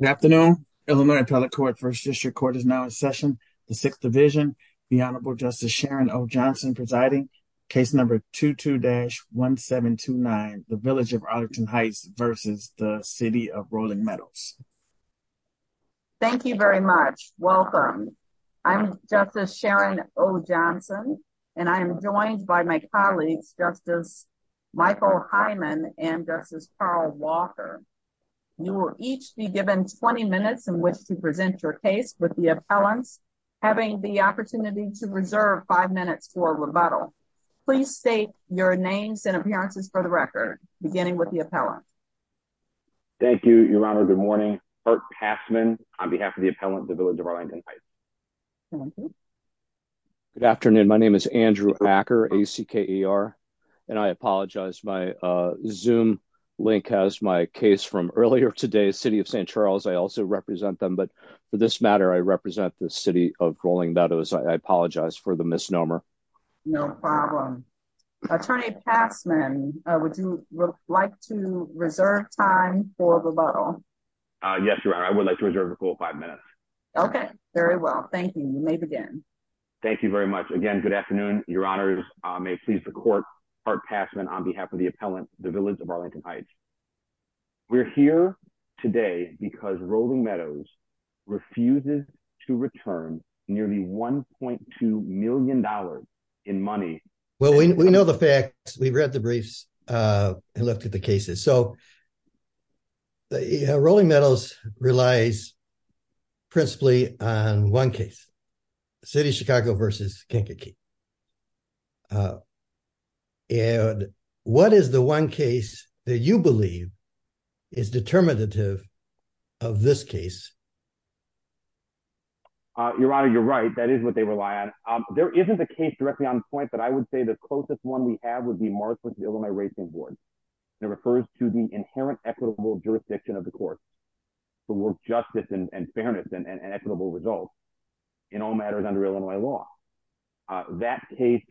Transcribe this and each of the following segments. Good afternoon, Illinois Appellate Court First District Court is now in session, the Sixth Division, the Honorable Justice Sharon O. Johnson presiding, case number 22-1729, the Village of Arlington Heights versus the City of Rolling Meadows. Thank you very much. Welcome. I'm Justice Sharon O. Johnson, and I'm joined by my colleagues, Justice Michael Hyman and Justice Carl Walker. You will each be given 20 minutes in which to present your case with the appellants. Having the opportunity to reserve five minutes for rebuttal. Please state your names and appearances for the record, beginning with the appellant. Thank you, Your Honor. Good morning. Kurt Passman on behalf of the appellant, the Village of Arlington Heights. Good afternoon. My name is Andrew Acker, A-C-K-E-R. And I apologize my Zoom link has my case from earlier today's City of St. Charles. I also represent them. But for this matter, I represent the City of Rolling Meadows. I apologize for the misnomer. No problem. Attorney Passman, would you like to reserve time for rebuttal? Yes, Your Honor. I would like to reserve a full five minutes. Okay, very well. Thank you. You may begin. Thank you very much. Again, good afternoon, Your Honors. May it please the Court, Kurt Passman on behalf of the appellant, the Village of Arlington Heights. We're here today because Rolling Meadows refuses to return nearly $1.2 million in money. Well, we know the facts. We've read the briefs and looked at the cases. So Rolling Meadows relies principally on one case, City of Chicago versus Kankakee. And what is the one case that you believe is determinative of this case? Your Honor, you're right. That is what they rely on. There isn't a case directly on point, but I would say the closest one we have would be Mark Winston-Illinois Racing Board. It refers to the inherent equitable jurisdiction of the court for justice and fairness and equitable results in all matters under Illinois law. That case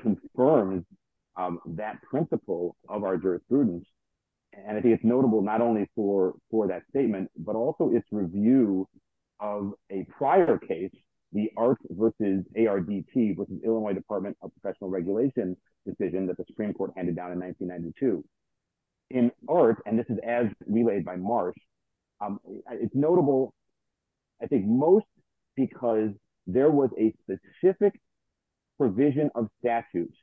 confirms that principle of our jurisprudence. And I think it's notable not only for that statement, but also its review of a prior case, the ART versus ARDT, which is Illinois Department of Professional Regulation decision that the Supreme Court handed down in 1992. In ART, and this is as relayed by Marsh, it's notable, I think most because there was a specific provision of statutes,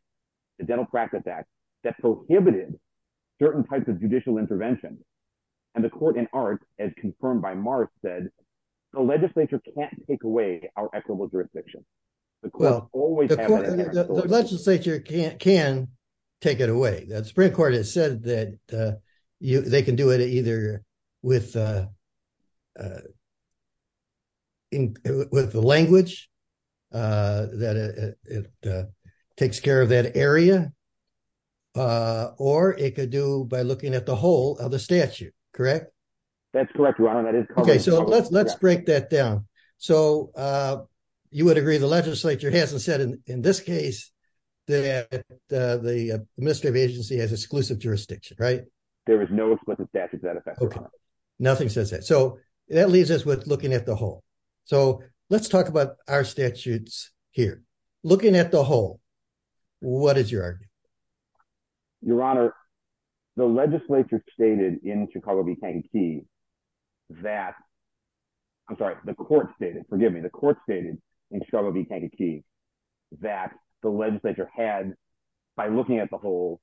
the Dental Practice Act, that prohibited certain types of judicial intervention. And the court in ART, as confirmed by Marsh said, the legislature can't take away our equitable jurisdiction. The courts always have an inherent jurisdiction. The legislature can take it away. The Supreme Court has said that they can do it either with the language, that it takes care of that area, or it could do by looking at the whole of the statute. Correct? That's correct, Ron. Okay, so let's break that down. So you would agree the legislature hasn't said in this case that the administrative agency has exclusive jurisdiction, right? There is no explicit statute that affects that. Nothing says that. So that leaves us with looking at the whole. So let's talk about our statutes here. Looking at the whole, what is your argument? Your Honor, the legislature stated in Chicago v. Kankakee that, I'm sorry, the court stated, forgive me, the court stated in Chicago v. Kankakee that the legislature had, by looking at the whole,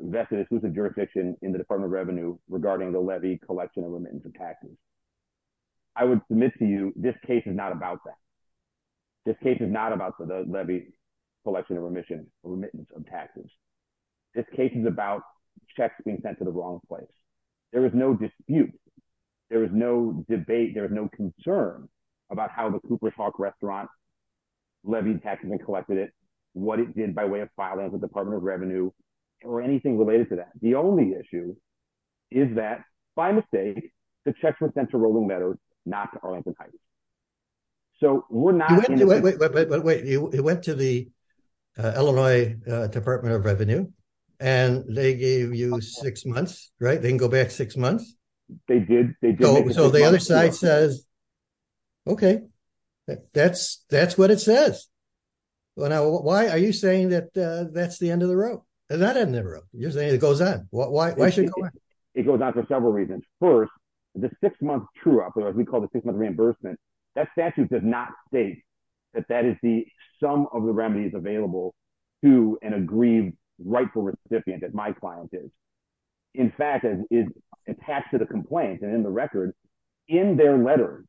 vested exclusive jurisdiction in the Department of Revenue regarding the levy, collection, and remittance of taxes. I would submit to you this case is not about that. This case is not about the levy, collection, and remittance of taxes. This case is about checks being sent to the wrong place. There is no dispute. There is no debate. There is no concern about how the Cooper's Hawk restaurant levied taxes and collected it, what it did by way of filing the Department of Revenue, or anything related to that. The only issue is that, by mistake, the checks were sent to Rolling Meadows, not to Arlington Heights. So we're not... Wait, wait, wait, wait, wait. It went to the Illinois Department of Revenue, and they gave you six months, right? They can go back six months. Okay. That's what it says. Well, now, why are you saying that that's the end of the road? That's the end of the road. It goes on. Why should it go on? It goes on for several reasons. First, the six-month true operator, as we call the six-month reimbursement, that statute does not state that that is the sum of the remedies available to an aggrieved rightful recipient, as my client is. In fact, it's attached to the complaint, and in the record, in their letters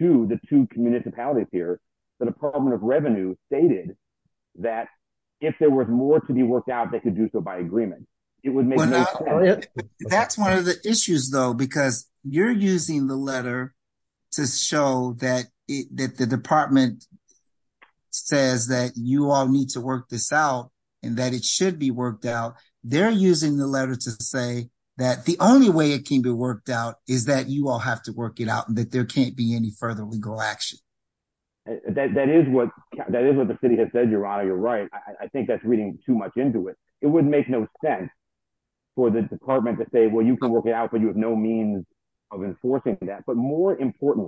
to the two municipalities here, the Department of Revenue stated that if there was more to be worked out, they could do so by agreement. That's one of the issues, though, because you're using the letter to show that the Department says that you all need to work this out, and that it should be worked out. They're using the letter to say that the only way it can be worked out is that you all have to work it out, and that there can't be any further legal action. That is what the city has said, Your Honor. You're right. I think that's reading too much into it. It would make no sense for the department to say, well, you can work it out, but you have no means of enforcing that. But more importantly,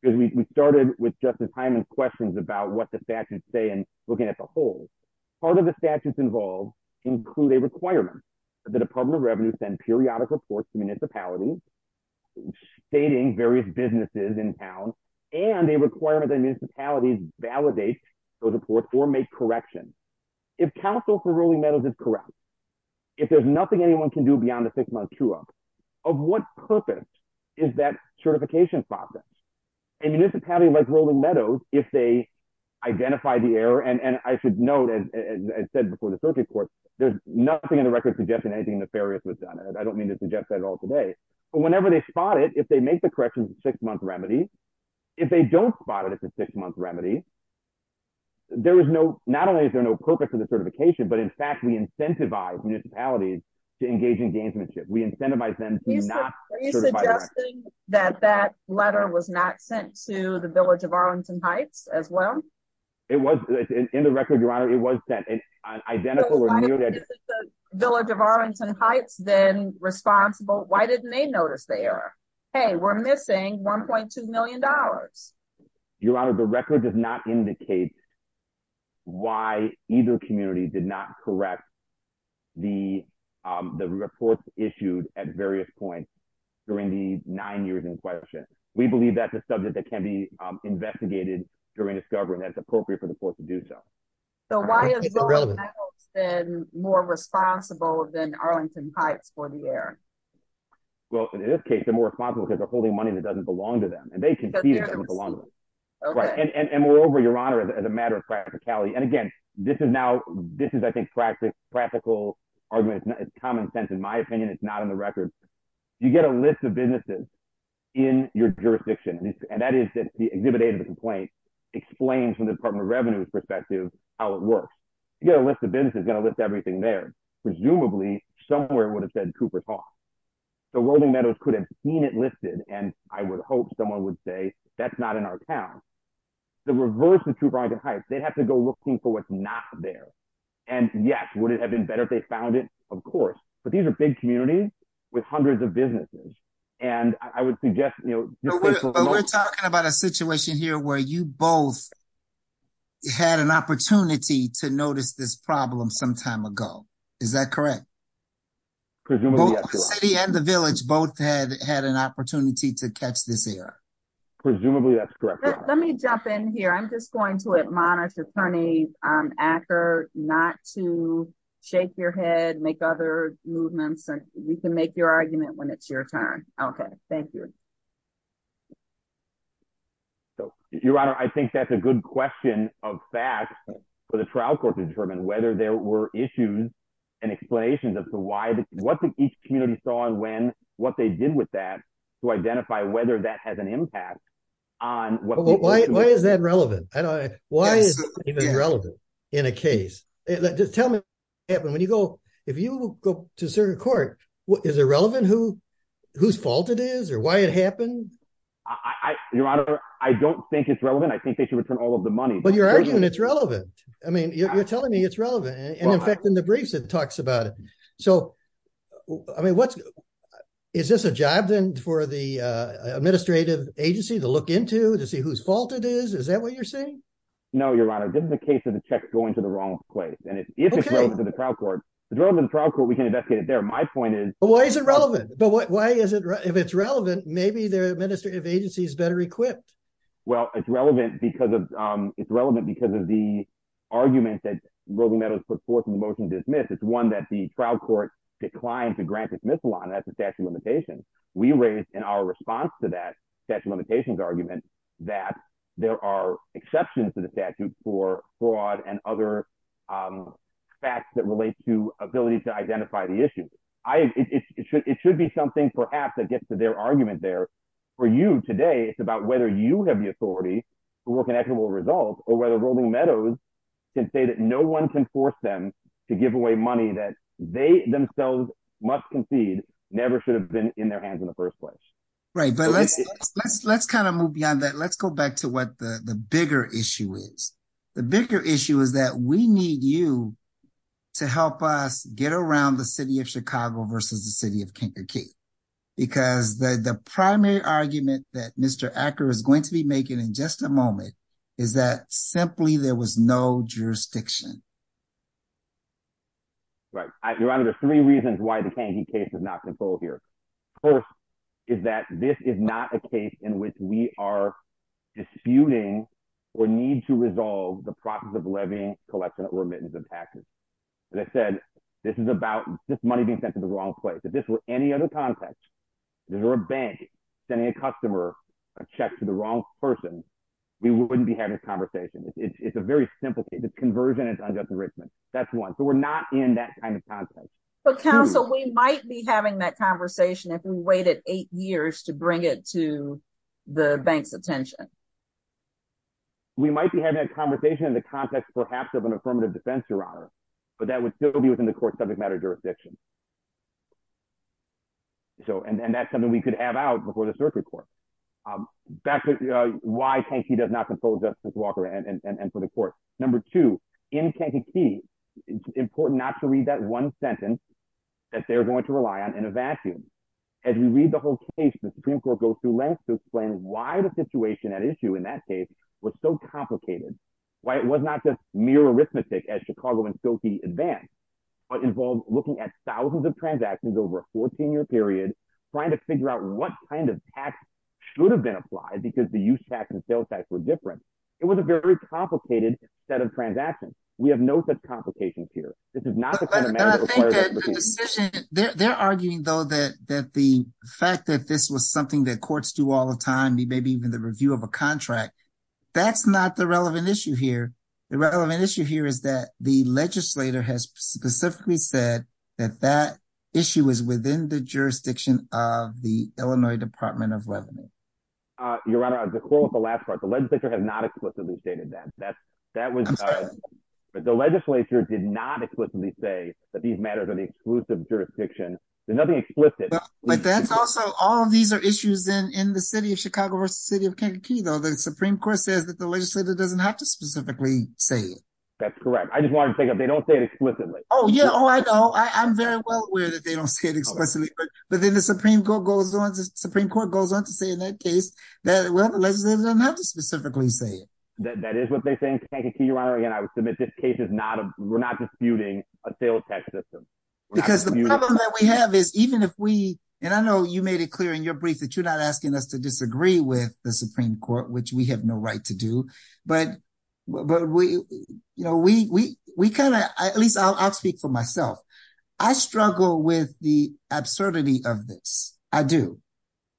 because we started with Justice Hyman's questions about what the statutes involve, include a requirement that the Department of Revenue send periodic reports to municipalities stating various businesses in town, and a requirement that municipalities validate those reports or make corrections. If counsel for Rolling Meadows is correct, if there's nothing anyone can do beyond a six-month queue up, of what purpose is that certification process? A municipality like Rolling Meadows, if they identify the error, and I should note, as I said before the circuit court, there's nothing in the record suggesting anything nefarious was done. I don't mean to suggest that at all today. But whenever they spot it, if they make the corrections, it's a six-month remedy. If they don't spot it, it's a six-month remedy. There is no, not only is there no purpose of the certification, but in fact, we incentivize municipalities to engage in gamesmanship. We incentivize them to not certify that. Are you suggesting that that letter was not sent to the village of Arlington Heights as well? It was in the record, Your Honor. It was sent, and identical or nearly identical. If it's the village of Arlington Heights, then responsible, why didn't they notice the error? Hey, we're missing $1.2 million. Your Honor, the record does not indicate why either community did not correct the reports issued at various points during the nine years in question. We believe that's a mistake that was made during discovery, and that it's appropriate for the court to do so. So why is Bowling Meadows then more responsible than Arlington Heights for the error? Well, in this case, they're more responsible because they're holding money that doesn't belong to them, and they can see that it doesn't belong to them. And moreover, Your Honor, as a matter of practicality, and again, this is now, this is, I think, practical argument. It's common sense. In my opinion, it's not in the record. You get a list of businesses in your jurisdiction, and that is that the exhibit A of the complaint explains from the Department of Revenue's perspective how it works. You get a list of businesses, it's going to list everything there. Presumably, somewhere it would have said Cooper Talks. So Bowling Meadows could have seen it listed, and I would hope someone would say, that's not in our town. To reverse the Trooper Arlington Heights, they'd have to go looking for what's not there. And yes, would it have been better if they found it? Of course. But these are big communities with hundreds of We're talking about a situation here where you both had an opportunity to notice this problem some time ago. Is that correct? City and the village both had had an opportunity to catch this error. Presumably, that's correct. Let me jump in here. I'm just going to admonish Attorney Acker not to shake your head, make other movements, and we can make your argument when it's your turn. Okay, thank you. Your Honor, I think that's a good question of facts for the trial court to determine whether there were issues and explanations as to what each community saw and when, what they did with that, to identify whether that has an impact on what people do. Why is that relevant? Why is it relevant in a case? Just tell me, when you go, if you go to circuit court, is it relevant whose fault it is or why it happened? Your Honor, I don't think it's relevant. I think they should return all of the money. But you're arguing it's relevant. I mean, you're telling me it's relevant. And in fact, in the briefs, it talks about it. So, I mean, what's, is this a job then for the administrative agency to look into to see whose fault it is? Is that what you're saying? No, Your Honor, this is a case of the check going to the wrong place. And if it's relevant to the trial court, we can investigate it there. My point is- But why is it relevant? If it's relevant, maybe the administrative agency is better equipped. Well, it's relevant because of the argument that Roe v. Meadows put forth in the motion to dismiss. It's one that the trial court declined to grant dismissal on. That's a statute of limitations. We raised in our response to that statute of limitations argument that there are exceptions to the statute for fraud and other facts that relate to ability to identify the issue. It should be something perhaps that gets to their argument there. For you today, it's about whether you have the authority to work in equitable results or whether Roe v. Meadows can say that no one can force them to give away money that they themselves must concede never should have been in their hands in the first place. Right. But let's kind of move beyond that. Let's go back to what the bigger issue is. The bigger issue is that we need you to help us get around the city of Chicago versus the city of Kankakee. Because the primary argument that Mr. Acker is going to be making in just a moment is that simply there was no jurisdiction. Right. Your Honor, there's three reasons why the Kankakee case is not controlled here. First is that this is not a case in which we are disputing or need to resolve the process of levying, collection, or remittance of taxes. As I said, this is about this money being sent to the wrong place. If this were any other context, if there were a bank sending a customer a check to the wrong person, we wouldn't be having this conversation. It's a very simple case. It's conversion into unjust enrichment. That's one. So we're not in that kind of context. But counsel, we might be having that conversation if we waited eight years to bring it to the bank's attention. We might be having a conversation in the context perhaps of an affirmative defense, Your Honor. But that would still be within the court's subject matter jurisdiction. And that's something we could have out before the circuit court. Back to why Kankakee does not control Justice Walker and for the court. Number two, in Kankakee, it's important not to read that one sentence that they're going to rely on in a vacuum. As we read the whole case, the Supreme Court goes through lengths to explain why the situation at issue in that case was so complicated, why it was not just mere arithmetic as Chicago and Silky advanced, but involved looking at thousands of transactions over a 14-year period, trying to figure out what kind of tax should have been applied because the use tax and sales tax were different. It was a very complicated set of transactions. We have no such complications here. This is not the kind of matter that requires a decision. They're arguing, though, that the fact that this was something that courts do all the time, maybe even the review of a contract, that's not the relevant issue here. The relevant issue is within the jurisdiction of the Illinois Department of Revenue. Your Honor, to close with the last part, the legislature has not explicitly stated that. The legislature did not explicitly say that these matters are the exclusive jurisdiction. There's nothing explicit. All of these are issues in the city of Chicago versus the city of Kankakee, though. The Supreme Court says that the legislature doesn't have to specifically say it. That's correct. I just wanted to pick up, they don't say it explicitly. Oh, yeah. Oh, I know. I'm very well aware that they don't say it explicitly, but then the Supreme Court goes on to say in that case that, well, the legislature doesn't have to specifically say it. That is what they think. Kankakee, Your Honor, again, I would submit this case is not, we're not disputing a sales tax system. Because the problem that we have is even if we, and I know you made it clear in your brief that you're not asking us to disagree with the Supreme Court, which we have no right to do, but we kind of, at least I'll speak for myself, I struggle with the absurdity of this. I do.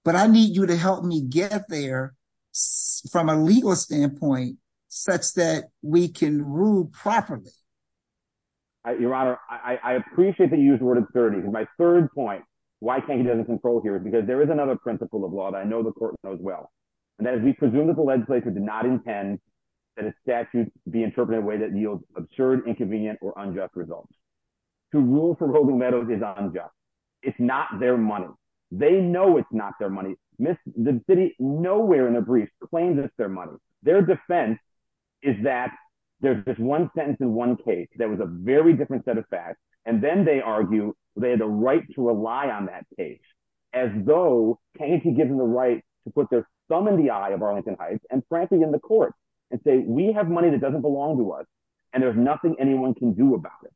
But I need you to help me get there from a legal standpoint such that we can rule properly. Your Honor, I appreciate that you used the word absurdity. My third point, why Kankakee doesn't control here is because there is another principle of law that I know the court knows well. And that is we presume that the legislature did not intend that a statute be interpreted in a way that yields absurd, inconvenient, or unjust results. To rule for Rogel Meadows is unjust. It's not their money. They know it's not their money. The city nowhere in the brief claims it's their money. Their defense is that there's this one sentence in one case that was a very different set of facts. And then they argue they had a right to rely on that page, as though Kankakee gives them the right to put their thumb in the eye of Arlington Heights and frankly in the court and say, we have money that doesn't belong to us. And there's nothing anyone can do about it.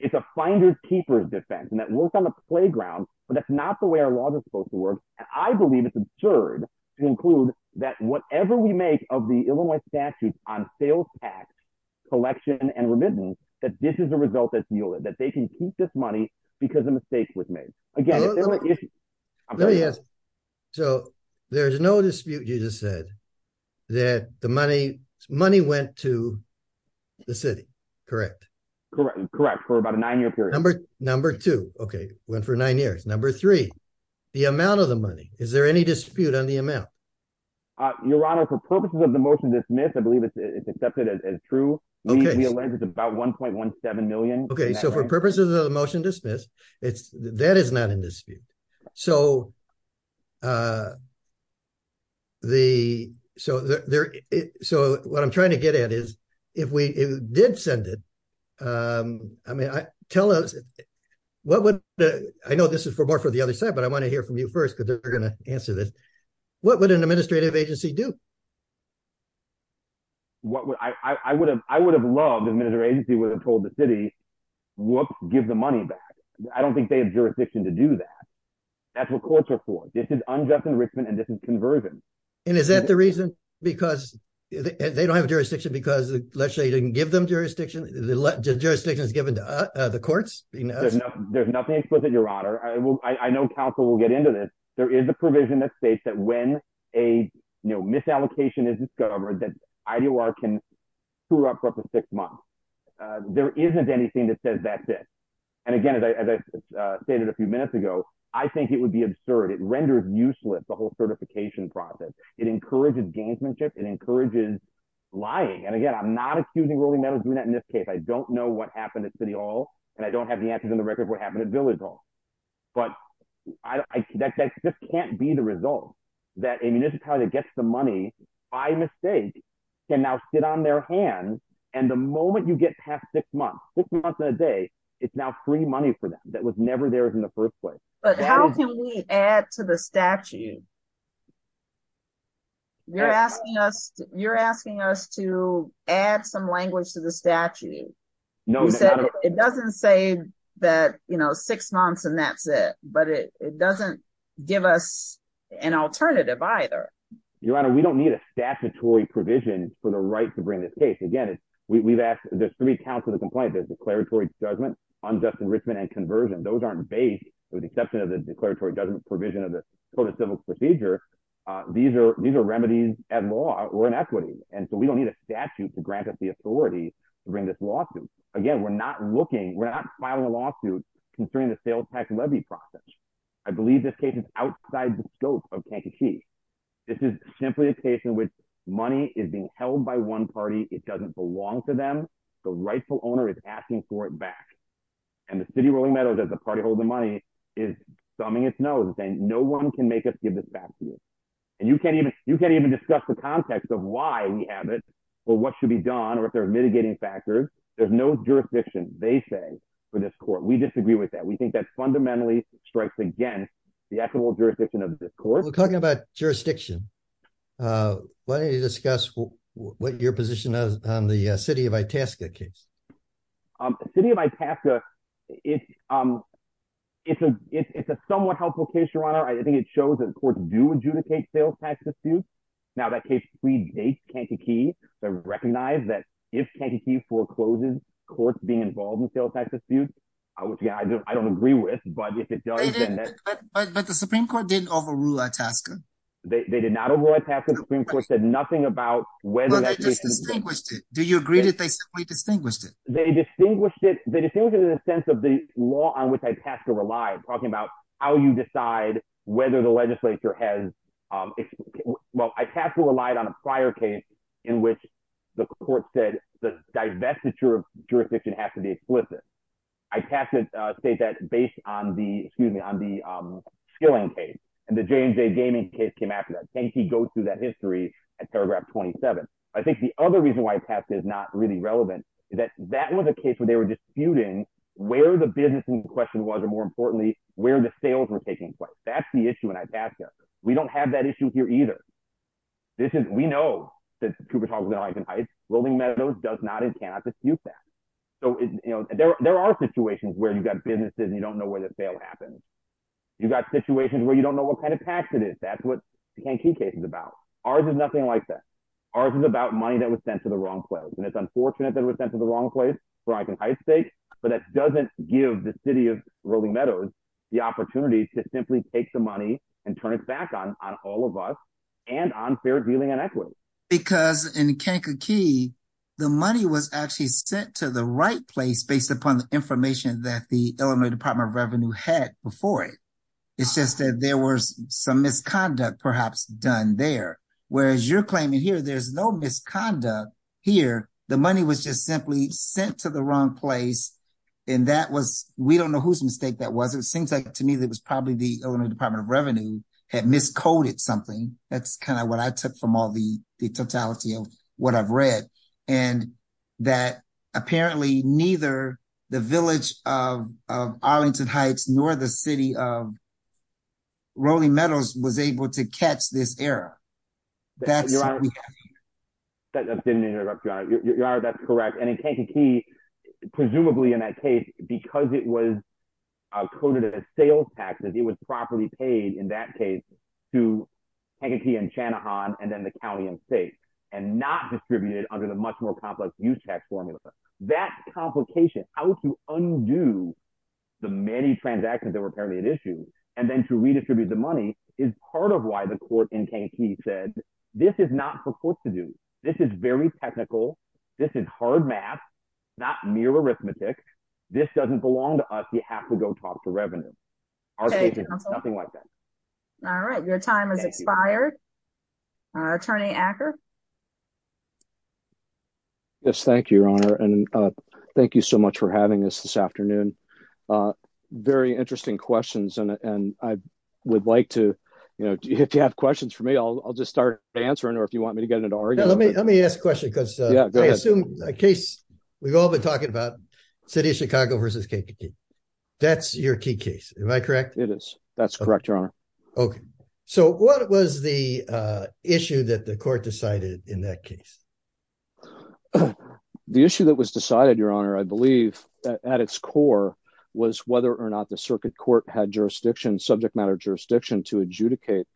It's a finders keepers defense and that works on the playground, but that's not the way our laws are supposed to work. And I believe it's absurd to include that whatever we make of the Illinois statutes on sales tax collection and remittance, that this is a result that they can keep this money because a mistake was made again. So there's no dispute. You just said that the money went to the city. Correct. Correct. Correct. For about a nine year period. Number two. Okay. Went for nine years. Number three, the amount of the money, is there any dispute on the amount? Your Honor, for purposes of the motion to dismiss, I believe it's accepted as true. We allege it's about 1.17 million. Okay. So for purposes of the motion to dismiss, that is not in dispute. So what I'm trying to get at is if we did send it, I mean, tell us, what would, I know this is more for the other side, but I want to hear from you first, because they're going to answer this. What would an administrative agency do? What would, I would have loved an administrative agency would have told the city, whoops, give the money back. I don't think they have jurisdiction to do that. That's what courts are for. This is unjust enrichment and this is conversion. And is that the reason because they don't have jurisdiction because the legislature didn't give them jurisdiction? The jurisdiction is given to the courts? There's nothing explicit, Your Honor. I know counsel will get into this. There is a provision that states that when a misallocation is discovered that IDOR can screw up for up to six months. There isn't anything that says that's it. And again, as I stated a few minutes ago, I think it would be absurd. It renders useless the whole certification process. It encourages gamesmanship. It encourages lying. And again, I'm not accusing Rolling Meadows of doing that in this case. I don't know what happened at City Hall. And I don't have the answers on the record of what happened at Village Hall. But that just can't be the result that a municipality that gets the money by mistake can now sit on their hands. And the moment you get past six months, six months in a day, it's now free money for them that was never theirs in the first place. But how can we add to the statute? You're asking us to add some language to the that, you know, six months and that's it. But it doesn't give us an alternative either. Your Honor, we don't need a statutory provision for the right to bring this case. Again, we've asked there's three counts of the complaint. There's declaratory judgment, unjust enrichment and conversion. Those aren't based with the exception of the declaratory judgment provision of the Code of Civil Procedure. These are these are remedies at law or inequity. And so we don't need a statute to grant us the authority to bring this lawsuit. Again, we're not filing a lawsuit concerning the sales tax levy process. I believe this case is outside the scope of Kankakee. This is simply a case in which money is being held by one party. It doesn't belong to them. The rightful owner is asking for it back. And the City of Rolling Meadows as a party holding money is thumbing its nose and saying no one can make us give this back to you. And you can't even discuss the context of why we have it or what should be done or if there they say for this court. We disagree with that. We think that fundamentally strikes against the actual jurisdiction of this court. We're talking about jurisdiction. Why don't you discuss what your position is on the City of Itasca case? City of Itasca, it's a somewhat helpful case, Your Honor. I think it shows that courts do adjudicate sales tax disputes. Now that case predates Kankakee. They recognize that if Kankakee forecloses, courts being involved in sales tax disputes, which again I don't agree with, but if it does... But the Supreme Court didn't overrule Itasca. They did not overrule Itasca. The Supreme Court said nothing about whether... Well, they just distinguished it. Do you agree that they simply distinguished it? They distinguished it in the sense of the law on which Itasca relied, talking about how you decide whether the legislature has... Well, Itasca relied on a prior case in which the court said the divestiture of jurisdiction has to be explicit. Itasca said that based on the skilling case, and the J&J Gaming case came after that. Kankakee goes through that history at paragraph 27. I think the other reason why Itasca is not really relevant is that that was a case where they were disputing where the business in question was, or more importantly, where the sales were taking place. That's the issue in Itasca. We don't have that issue here either. We know that Cooper Talks was in Eichen Heights. Rolling Meadows does not and cannot dispute that. There are situations where you've got businesses and you don't know where the sale happens. You've got situations where you don't know what kind of tax it is. That's what Kankakee case is about. Ours is nothing like that. Ours is about money that was sent to the wrong place. It's unfortunate that it was sent to the wrong place for Eichen Heights' sake, but that doesn't give the city of Rolling Meadows the opportunity to simply take the money and turn it back on all of us and on fair dealing and equity. Because in Kankakee, the money was actually sent to the right place based upon the information that the Illinois Department of Revenue had before it. It's just that there was some misconduct perhaps done there. Whereas you're claiming here there's no misconduct here. The money was just simply sent to the wrong place and that was, we don't know whose mistake that was. It seems like to me that it was probably the Illinois Department of Revenue had miscoded something. That's kind of what I took from all the totality of what I've read. And that apparently neither the village of Arlington Heights nor the city of Rolling Meadows was able to catch this error. That's- Your Honor, that's correct. And in Kankakee, presumably in that case, because it was coded as sales taxes, it was properly paid in that case to Kankakee and Channahan and then the county and state and not distributed under the much more complex use tax formula. That complication, how to undo the many transactions that were apparently at issue and then to redistribute the money is part of why the court in Kankakee said, this is not for courts to do. This is very technical. This is hard math, not mere arithmetic. This doesn't belong to us. We have to go talk to revenue. All right. Your time has expired. Attorney Acker. Yes. Thank you, Your Honor. And thank you so much for having us this afternoon. Very interesting questions. And I would like to, you know, if you have questions for me, I'll just start answering or if you want me to get into arguing. Let me ask a question because I assume a case we've all been talking about, city of Chicago versus Kankakee. That's your key case. Am I correct? It is. That's correct, Your Honor. Okay. So what was the issue that the court decided in that case? The issue that was decided, Your Honor, I believe at its core was whether or not the circuit court had jurisdiction, subject matter jurisdiction to adjudicate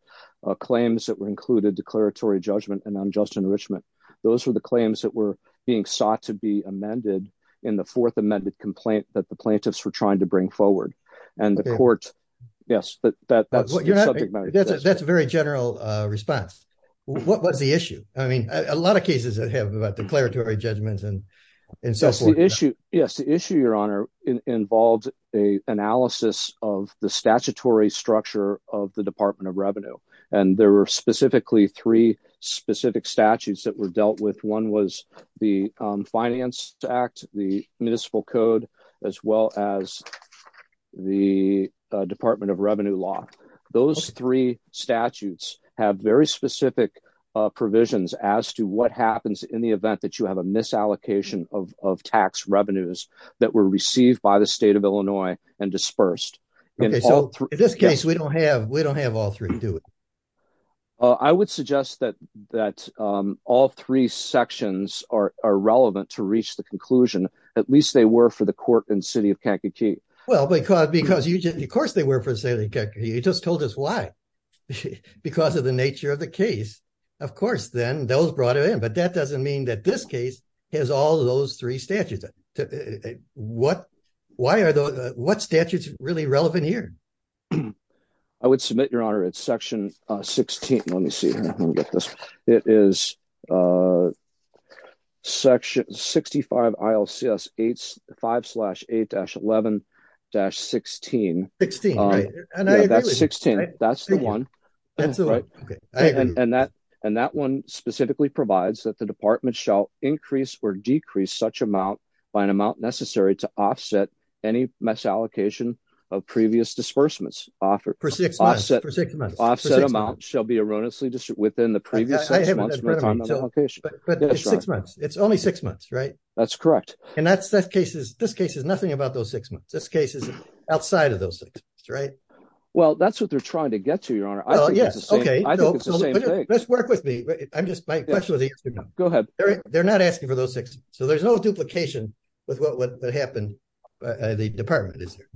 claims that were included declaratory judgment and unjust enrichment. Those were the claims that were being sought to be amended in the fourth amended complaint that the plaintiffs were trying to bring forward. And the court, yes, that's a very general response. What was the issue? I mean, a lot of cases that have declaratory judgments and so forth. Yes. The issue, Your Honor, involved a analysis of the statutory structure of the Department of specific statutes that were dealt with. One was the Finance Act, the Municipal Code, as well as the Department of Revenue Law. Those three statutes have very specific provisions as to what happens in the event that you have a misallocation of tax revenues that were received by the state of Illinois and dispersed. Okay. So in this case, we don't have all three, do we? I would suggest that all three sections are relevant to reach the conclusion. At least they were for the court in the city of Kankakee. Well, because of course they were for the city of Kankakee. You just told us why. Because of the nature of the case, of course, then those brought it in. But that doesn't mean that this case has all those three statutes. What statutes are really relevant here? I would submit, Your Honor, it's section 16. Let me see. Let me get this. It is section 65 ILCS 5-8-11-16. 16. That's the one. And that one specifically provides that the department shall increase or decrease such amount by an amount necessary to offset any misallocation of previous disbursements. Offset amount shall be erroneously distributed within the previous six months. It's only six months, right? That's correct. And this case is nothing about those six months. This case is outside of those six months, right? Well, that's what they're trying to get to, Your Honor. I think it's the same thing. Let's work with me. My question was answered. Go ahead. They're not asking for those six months. So there's no the department, is there?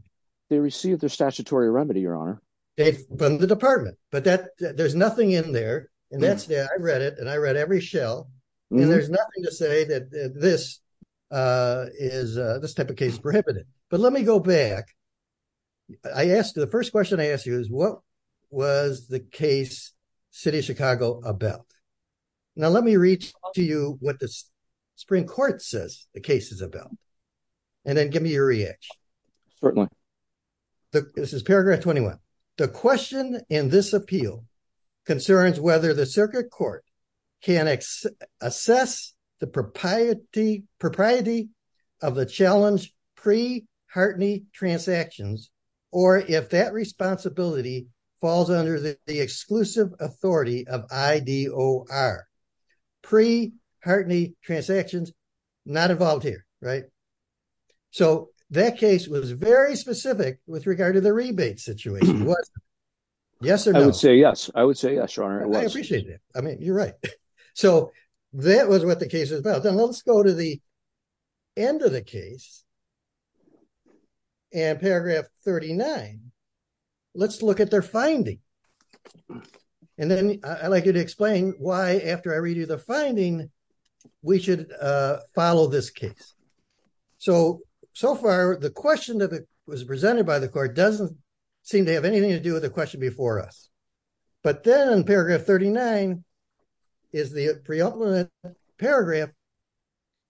They received their statutory remedy, Your Honor. It's from the department. But there's nothing in there. And I read it. And I read every shell. And there's nothing to say that this type of case is prohibited. But let me go back. I asked, the first question I asked you is, what was the case, City of Chicago, about? Now, let me read to you what the Supreme Court says the case is about. And then give me your reaction. Certainly. This is paragraph 21. The question in this appeal concerns whether the circuit court can assess the propriety of the challenge pre-Hartney transactions, or if that responsibility falls under the exclusive authority of IDOR. Pre-Hartney transactions, not involved here, right? So that case was very specific with regard to the rebate situation. Yes or no? I would say yes. I would say yes, Your Honor. I appreciate that. I mean, you're right. So that was what the case is about. Then let's go to the end of the case. And paragraph 39. Let's look at their finding. And then I'd like you to explain why, after I read you the finding, we should follow this case. So, so far, the question that was presented by the court doesn't seem to have anything to do with the question before us. But then in paragraph 39, is the preeminent paragraph.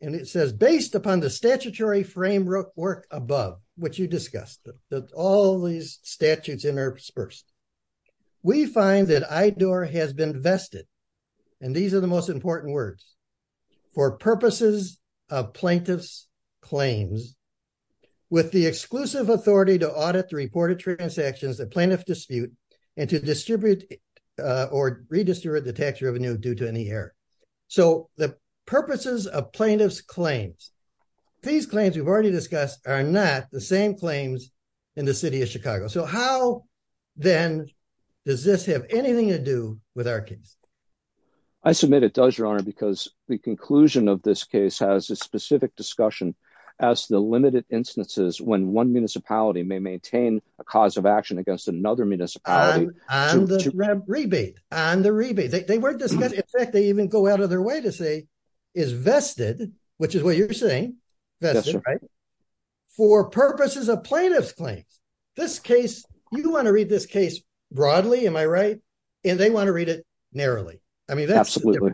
And it says, based upon the statutory framework above, which you discussed, that all these statutes interspersed. We find that IDOR has been vested, and these are the most important words, for purposes of plaintiff's claims, with the exclusive authority to audit the reported transactions that plaintiff dispute and to distribute or redistribute the tax revenue due to any error. So the purposes of plaintiff's claims, these claims we've already discussed, are not the same claims in the city of Chicago. So how, then, does this have anything to do with our case? I submit it does, Your Honor, because the conclusion of this case has a specific discussion as to the limited instances when one municipality may maintain a cause of action against another on the rebate, on the rebate. They weren't discussing, in fact, they even go out of their way to say, is vested, which is what you're saying, that's right, for purposes of plaintiff's claims. This case, you want to read this case broadly, am I right? And they want to read it narrowly. I mean, that's absolutely,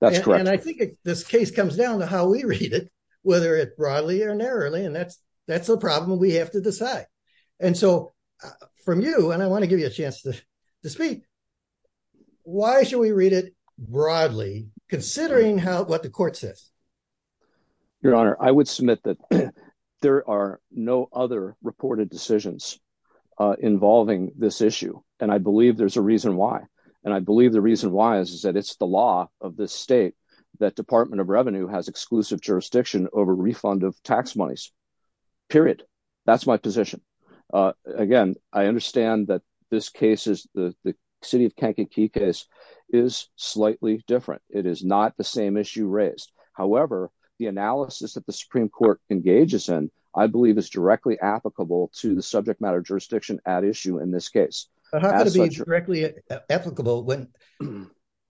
that's correct. And I think this case comes down to how we read it, whether it broadly or narrowly. And that's, that's a problem we have to decide. And so from you, and I want to give you a chance to speak, why should we read it broadly, considering what the court says? Your Honor, I would submit that there are no other reported decisions involving this issue. And I believe there's a reason why. And I believe the reason why is that it's the law of this state, that Department of Revenue has exclusive jurisdiction over refund of tax monies, period. That's my position. Again, I understand that this case is the city of Kankakee case is slightly different. It is not the same issue raised. However, the analysis that the Supreme Court engages in, I believe is directly applicable to the subject matter jurisdiction at issue in this case. How could it be directly applicable when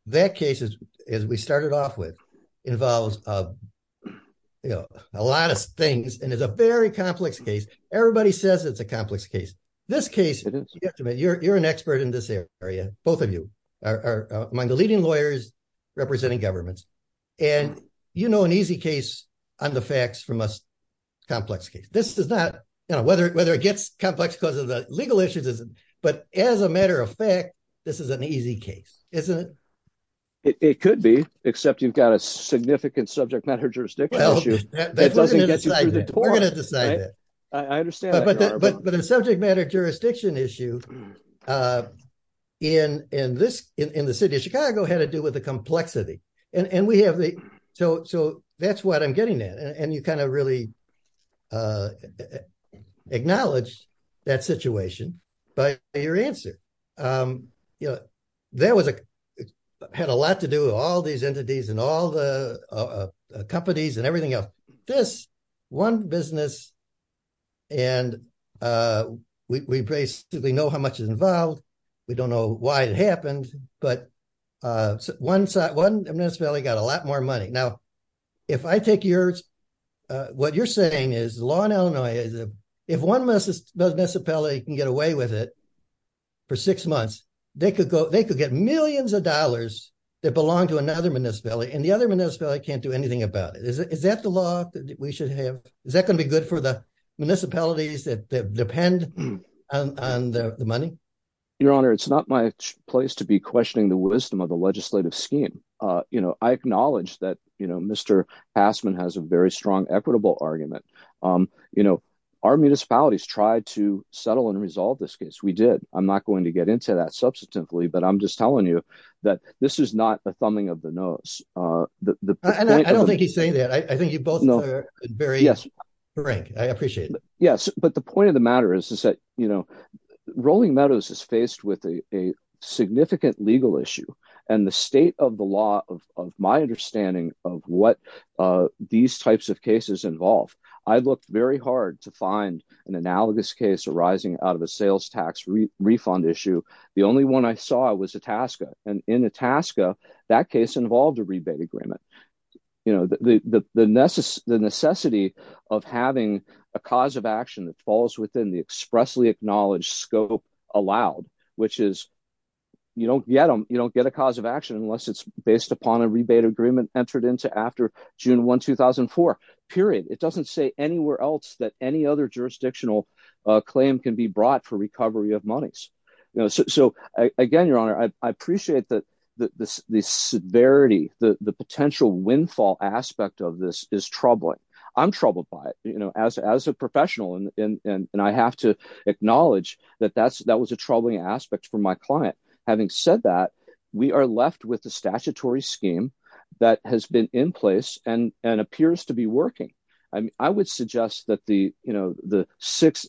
that case is, as we started off with, involves, you know, a lot of things, and it's a very complex case. Everybody says it's a complex case. This case, you're an expert in this area. Both of you are among the leading lawyers representing governments. And you know, an easy case on the facts from a complex case. This is not, you know, whether it gets complex because of the legal issues, but as a matter of fact, this is an easy case, isn't it? It could be, except you've got a significant subject matter jurisdiction issue. We're going to decide that. I understand. But the subject matter jurisdiction issue in the city of Chicago had to do with the complexity. And we have the, so that's what I'm getting at. And you kind of really acknowledged that situation by your answer. You know, that had a lot to do with all these entities and all the companies and everything else. This one business, and we basically know how much is involved. We don't know why it happened, but one municipality got a lot more money. Now, if I take yours, what you're saying is the law in Illinois, if one municipality can get away with it for six months, they could get millions of dollars that belong to another municipality, and the other municipality can't do anything about it. Is that the law that we should have? Is that going to be good for the municipalities that depend on the money? Your Honor, it's not my place to be questioning the wisdom of the legislative scheme. I acknowledge that Mr. Passman has a very strong equitable argument. Our municipalities tried to settle and resolve this case. We did. I'm not going to get into that subsequently, but I'm just telling you that this is not the thumbing of the nose. I don't think he's saying that. I think you both are very frank. I appreciate it. Yes, but the point of the matter is that, you know, Rolling Meadows is faced with a significant legal issue, and the state of the law of my understanding of what these types of cases involve, I looked very hard to find an analogous case arising out of a sales tax refund issue. The only one I saw was Itasca, and in Itasca, that case involved a rebate agreement. You know, the necessity of having a cause of action that falls within the expressly acknowledged scope allowed, which is you don't get a cause of action unless it's based upon a rebate agreement entered into after June 1, 2004. Period. It doesn't say anywhere else that any other jurisdictional claim can be brought for recovery of monies. You know, so again, Your Honor, I appreciate the severity, the potential windfall aspect of this is troubling. I'm troubled by it, you know, as a professional, and I have to acknowledge that that was a troubling aspect for my client. Having said that, we are left with a statutory scheme that has been in and appears to be working. I would suggest that the, you know, the six,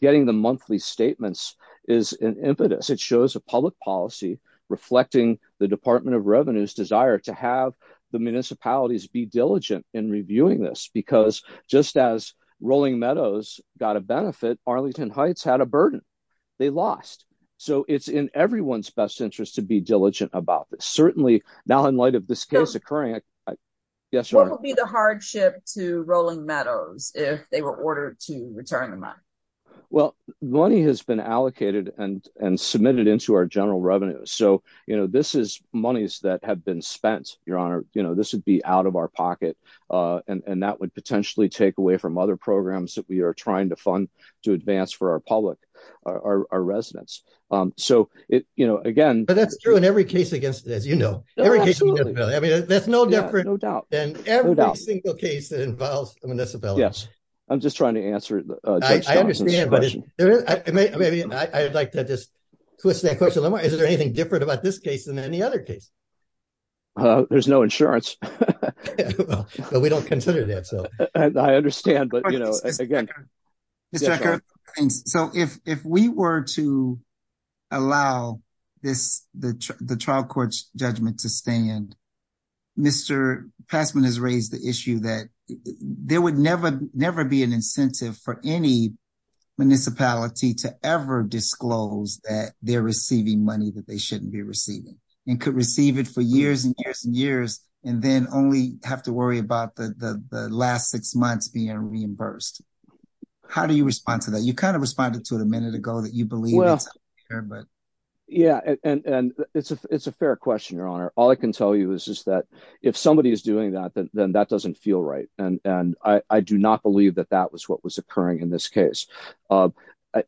getting the monthly statements is an impetus. It shows a public policy reflecting the Department of Revenue's desire to have the municipalities be diligent in reviewing this, because just as Rolling Meadows got a benefit, Arlington Heights had a burden. They lost. So it's in everyone's best interest to be the hardship to Rolling Meadows if they were ordered to return the money. Well, money has been allocated and submitted into our general revenues. So, you know, this is monies that have been spent, Your Honor, you know, this would be out of our pocket, and that would potentially take away from other programs that we are trying to fund to advance for our public, our residents. So it, you know, again, that's true in every case against it, as you know. I mean, that's no different than every single case that involves the municipalities. Yes. I'm just trying to answer. I understand, but maybe I'd like to just twist that question a little more. Is there anything different about this case than any other case? There's no insurance. But we don't consider that. So I understand. But, you know, again, so if we were to allow this, the trial court's judgment to stand, Mr. Passman has raised the issue that there would never, never be an incentive for any municipality to ever disclose that they're receiving money that they shouldn't be receiving and could receive it for years and years and then only have to worry about the last six months being reimbursed. How do you respond to that? You kind of responded to it a minute ago that you believe. Yeah, and it's a fair question, Your Honor. All I can tell you is that if somebody is doing that, then that doesn't feel right. And I do not believe that that was what was occurring in this case.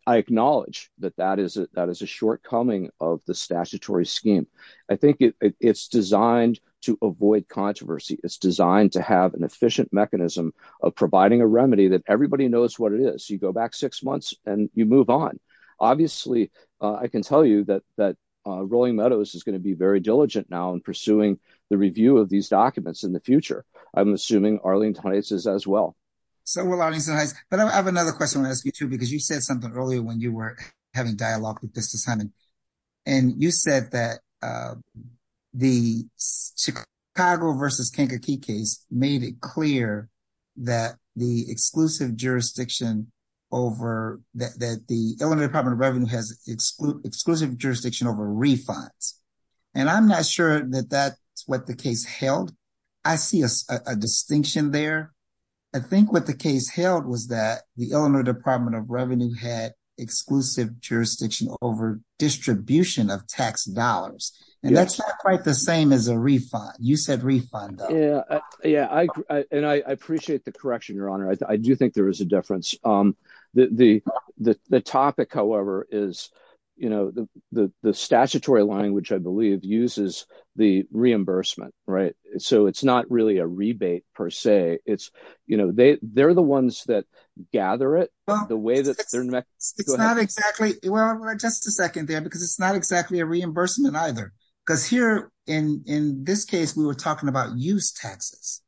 I acknowledge that that is a shortcoming of the statutory scheme. I think it's designed avoid controversy. It's designed to have an efficient mechanism of providing a remedy that everybody knows what it is. You go back six months and you move on. Obviously, I can tell you that that Rolling Meadows is going to be very diligent now in pursuing the review of these documents in the future. I'm assuming Arlene Heitz is as well. So will Arlene Heitz. But I have another question I want to ask you too, because you said something earlier when you were having dialogue with the Chicago versus Kankakee case made it clear that the Illinois Department of Revenue has exclusive jurisdiction over refunds. And I'm not sure that that's what the case held. I see a distinction there. I think what the case held was that the Illinois Department of Revenue had distribution of tax dollars. And that's not quite the same as a refund. You said refund. Yeah. And I appreciate the correction, Your Honor. I do think there is a difference. The topic, however, is the statutory line, which I believe uses the reimbursement. So it's not really a there, because it's not exactly a reimbursement either. Because here, in this case, we were talking about use taxes.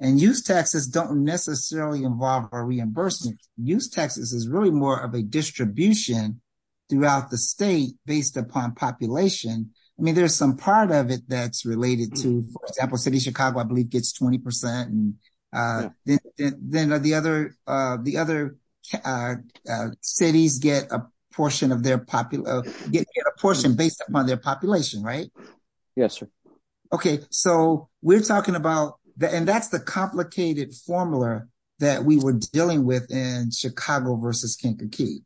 And use taxes don't necessarily involve a reimbursement. Use taxes is really more of a distribution throughout the state based upon population. I mean, there's some part of it that's related to, for example, City of Chicago, I believe, gets 20%. Yeah. Then the other cities get a portion based upon their population, right? Yes, sir. Okay. So we're talking about, and that's the complicated formula that we were dealing with in Chicago versus Kankakee.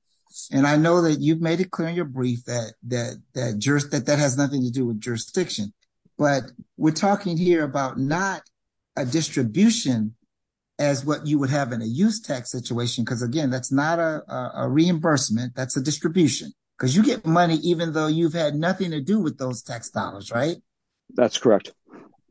And I know that you've made it clear in your brief that that has nothing to do with jurisdiction. But we're talking here about not a distribution as what you would have in a use tax situation. Because again, that's not a reimbursement, that's a distribution. Because you get money even though you've had nothing to do with those tax dollars, right? That's correct.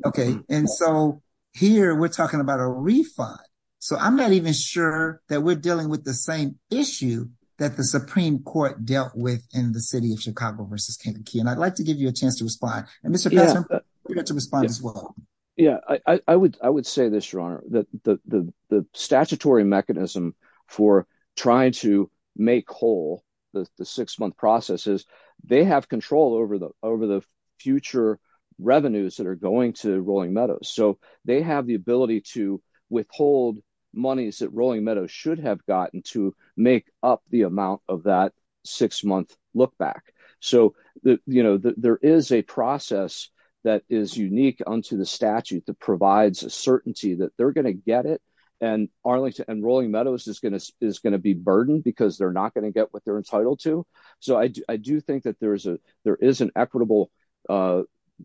Okay. And so here, we're talking about a refund. So I'm not even sure that we're dealing with the same issue that the Supreme Court dealt with in the City of Chicago versus Kankakee. And I'd like to give you a chance to respond. And Mr. Patterson, you got to respond as well. Yeah. I would say this, Your Honor, that the statutory mechanism for trying to make whole the six-month process is they have control over the future revenues that are going to Rolling Meadows. So they have the ability to withhold monies that Rolling Meadows should have gotten to make up the amount of that six-month look back. So there is a process that is unique unto the statute that provides a certainty that they're going to get it, and Arlington and Rolling Meadows is going to be burdened because they're not going to get what they're entitled to. So I do think that there is an equitable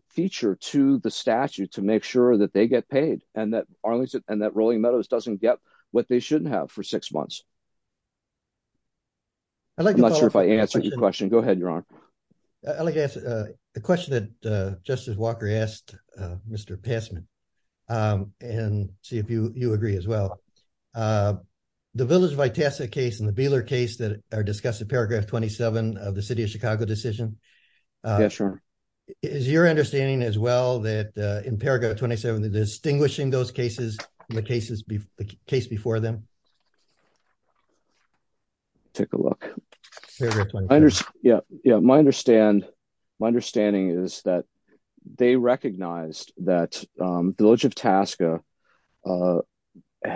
feature to the statute to make sure that they get paid, and that Rolling Meadows doesn't get what they shouldn't have for six months. I'm not sure if I answered your question. Go ahead, Your Honor. I'd like to ask a question that Justice Walker asked Mr. Passman, and see if you agree as well. The Village of Itasca case and the Beeler case that are discussed in paragraph 27 of the City of Chicago decision, is your understanding as well that in paragraph 27, they're distinguishing those cases from the case before them? Take a look. Yeah, my understanding is that they recognized that the Village of Itasca,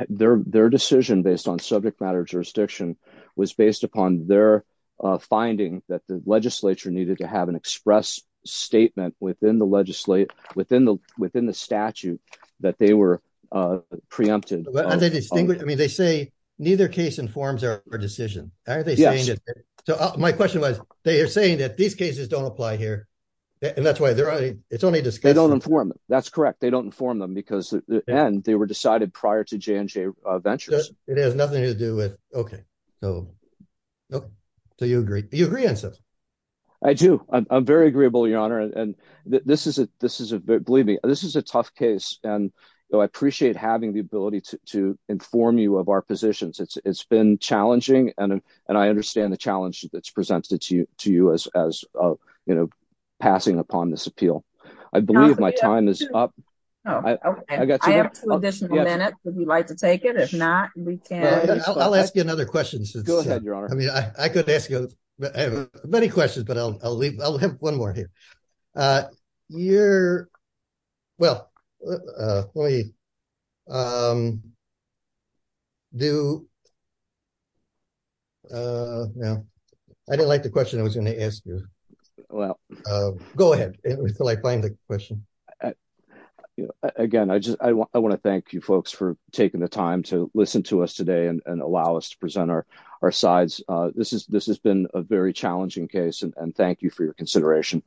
their decision based on subject matter jurisdiction was based upon their finding that the legislature needed to have an express statement within the statute that they were preempted. I mean, they say neither case informs our decision. So my question was, they are saying that these cases don't apply here, and that's why it's only discussed. They don't inform them. That's correct. They don't inform them because they were decided prior to J&J Ventures. It has nothing to do with, okay. So you agree? You agree on something? I do. I'm very agreeable, Your Honor. And believe me, this is a tough case. And so I appreciate having the ability to inform you of our positions. It's been challenging, and I understand the challenge that's presented to you as passing upon this appeal. I believe my time is up. I have two additional minutes, if you'd like to take it. If not, we can... I'll ask you another question. Go ahead, Your Honor. I mean, I could ask you many questions, but I'll leave. I'll have one more here. I didn't like the question I was going to ask you. Go ahead until I find the question. Again, I want to thank you folks for taking the time to listen to us today and allow us to present our sides. This has been a very challenging case, and thank you for your consideration.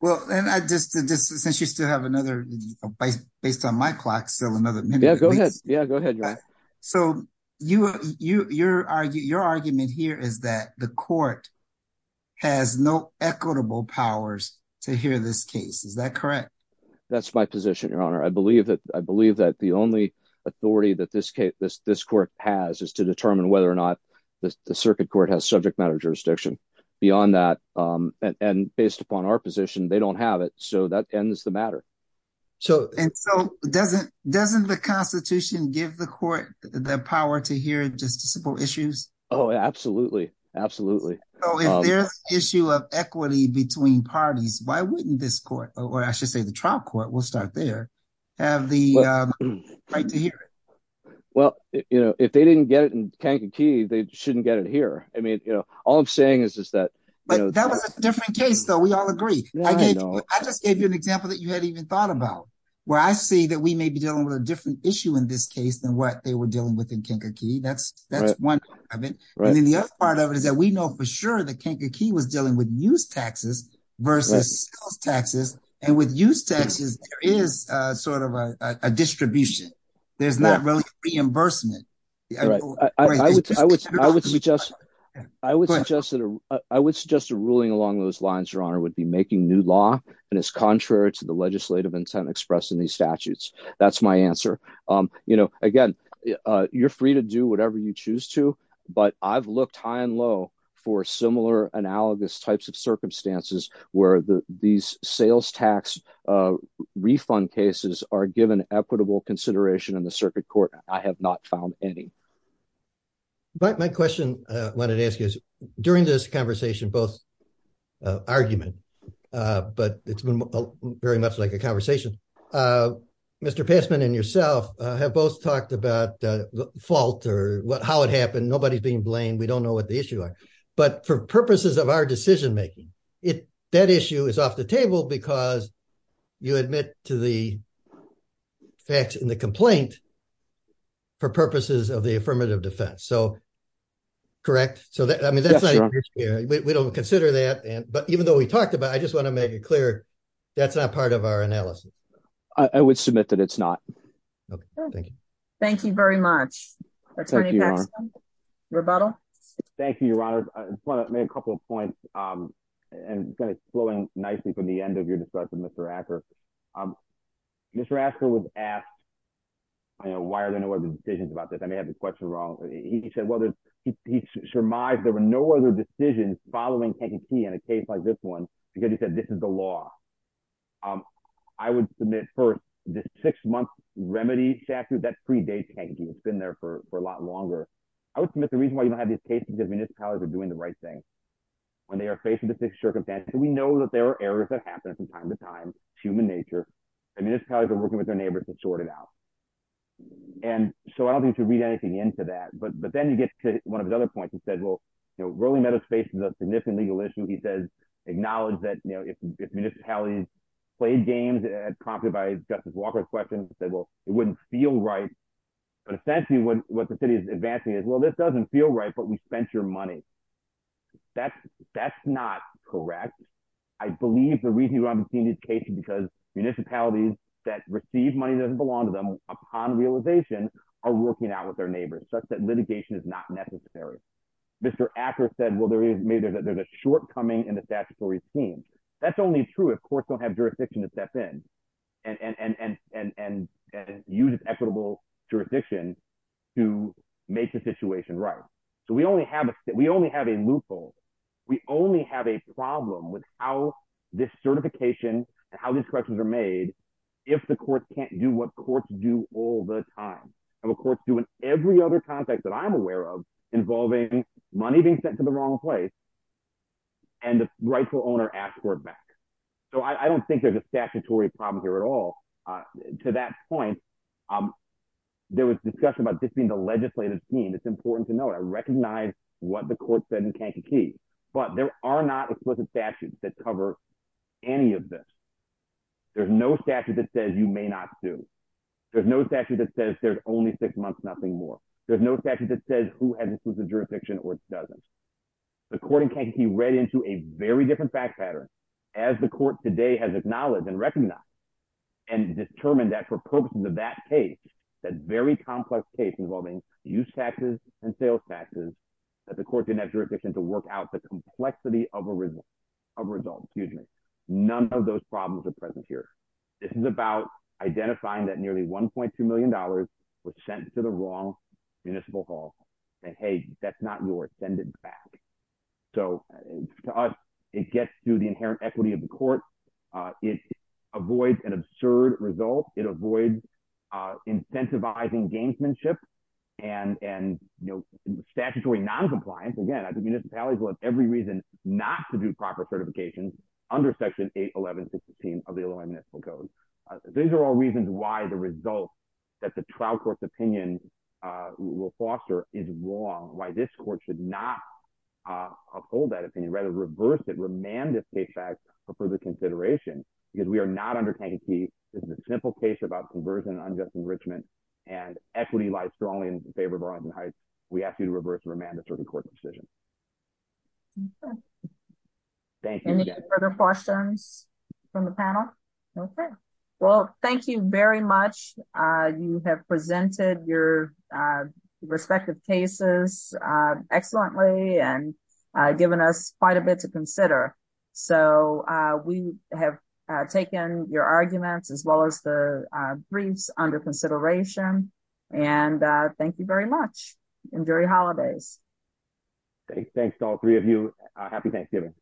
Well, and I just, since you still have another, based on my clock, still another minute. Yeah, go ahead. Yeah, go ahead, Your Honor. So your argument here is that the court has no equitable powers to hear this case. Is that correct? That's my position, Your Honor. I believe that the only authority that this court has is to determine whether or not the circuit court has subject matter jurisdiction. Beyond that, and based upon our position, they don't have it. So that ends the matter. And so doesn't the Constitution give the court the power to hear issues? Oh, absolutely. Absolutely. So if there's an issue of equity between parties, why wouldn't this court, or I should say the trial court, we'll start there, have the right to hear it? Well, you know, if they didn't get it in Kankakee, they shouldn't get it here. I mean, you know, all I'm saying is just that. But that was a different case, though. We all agree. I just gave you an example that you hadn't even thought about, where I see that we may be dealing with a Kankakee. That's one part of it. And then the other part of it is that we know for sure that Kankakee was dealing with use taxes versus sales taxes. And with use taxes, there is sort of a distribution. There's not really reimbursement. I would suggest a ruling along those lines, Your Honor, would be making new law, and it's contrary to the legislative intent expressed in these statutes. That's my answer. You know, again, you're free to do whatever you choose to, but I've looked high and low for similar analogous types of circumstances where these sales tax refund cases are given equitable consideration in the circuit court. I have not found any. My question I wanted to ask you is, during this conversation, both argument, but it's been very much like a conversation, Mr. Passman and yourself have both talked about fault or how it happened. Nobody's being blamed. We don't know what the issues are. But for purposes of our decision making, that issue is off the table because you admit to the facts in the complaint for purposes of the affirmative defense. So, correct? We don't consider that. But even though we talked about it, I just want to make it clear that's not part of our analysis. I would submit that it's not. Thank you very much, Attorney Passman. Rebuttal? Thank you, Your Honor. I just want to make a couple of points, and kind of flowing nicely from the end of your discussion, Mr. Acker. Mr. Acker was asked, you know, why are there no other decisions about this? I may have the question wrong. He said, well, he surmised there were no other decisions following Kankakee in a case like this one because he said this is the law. I would submit, first, the six-month remedy statute, that predates Kankakee. It's been there for a lot longer. I would submit the reason why you don't have these cases is because municipalities are doing the right thing when they are facing the same circumstances. We know that there are errors that happen from time to time. It's human nature. The municipalities are working with their neighbors to sort it out. And so, I don't think you should read anything into that. But then you get to one of his other points. He said, well, you know, Raleigh-Meadows faces a significant legal issue. He says, acknowledge that, you know, if municipalities played games, prompted by Justice Walker's question, he said, well, it wouldn't feel right. But essentially, what the city is advancing is, well, this doesn't feel right, but we spent your money. That's not correct. I believe the reason you haven't seen this case is because municipalities that receive money that doesn't belong to them, upon realization, are working out with their neighbors, such that litigation is not necessary. Mr. Acker said, well, there's a shortcoming in the statutory scheme. That's only true if courts don't have jurisdiction to step in and use equitable jurisdiction to make the situation right. So, we only have a loophole. We only have a problem with how this certification and how these corrections are made if the courts can't do what courts do all the time. And the courts do it in every other context that I'm aware of, involving money being sent to the wrong place and the rightful owner asking for it back. So, I don't think there's a statutory problem here at all. To that point, there was discussion about this being the legislative scheme. It's important to note. I recognize what the court said in Kankakee. But there are not explicit statutes that cover any of this. There's no statute that says there's only six months, nothing more. There's no statute that says who has explicit jurisdiction or doesn't. The court in Kankakee read into a very different fact pattern as the court today has acknowledged and recognized and determined that for purposes of that case, that very complex case involving use taxes and sales taxes, that the court didn't have jurisdiction to work out the complexity of a result. None of those problems are present here. This is about identifying that nearly $1.2 million was sent to the wrong municipal hall and, hey, that's not yours. Send it back. So, to us, it gets to the inherent equity of the court. It avoids an absurd result. It avoids incentivizing gamesmanship and statutory noncompliance. Again, I think municipalities will have every reason not to do proper certifications under Section 811.16 of the Illinois Municipal Code. These are all reasons why the result that the trial court's opinion will foster is wrong, why this court should not uphold that opinion, rather reverse it, remand this case back for further consideration, because we are not under Kankakee. This is a simple case about conversion and unjust enrichment, and equity lies strongly in favor of Arlington Heights. We ask you to reverse and remand a case. Well, thank you very much. You have presented your respective cases excellently and given us quite a bit to consider. So, we have taken your arguments as well as the briefs under consideration, and thank you very much. Enjoy your holidays. Thanks to all three of you. Happy Thanksgiving.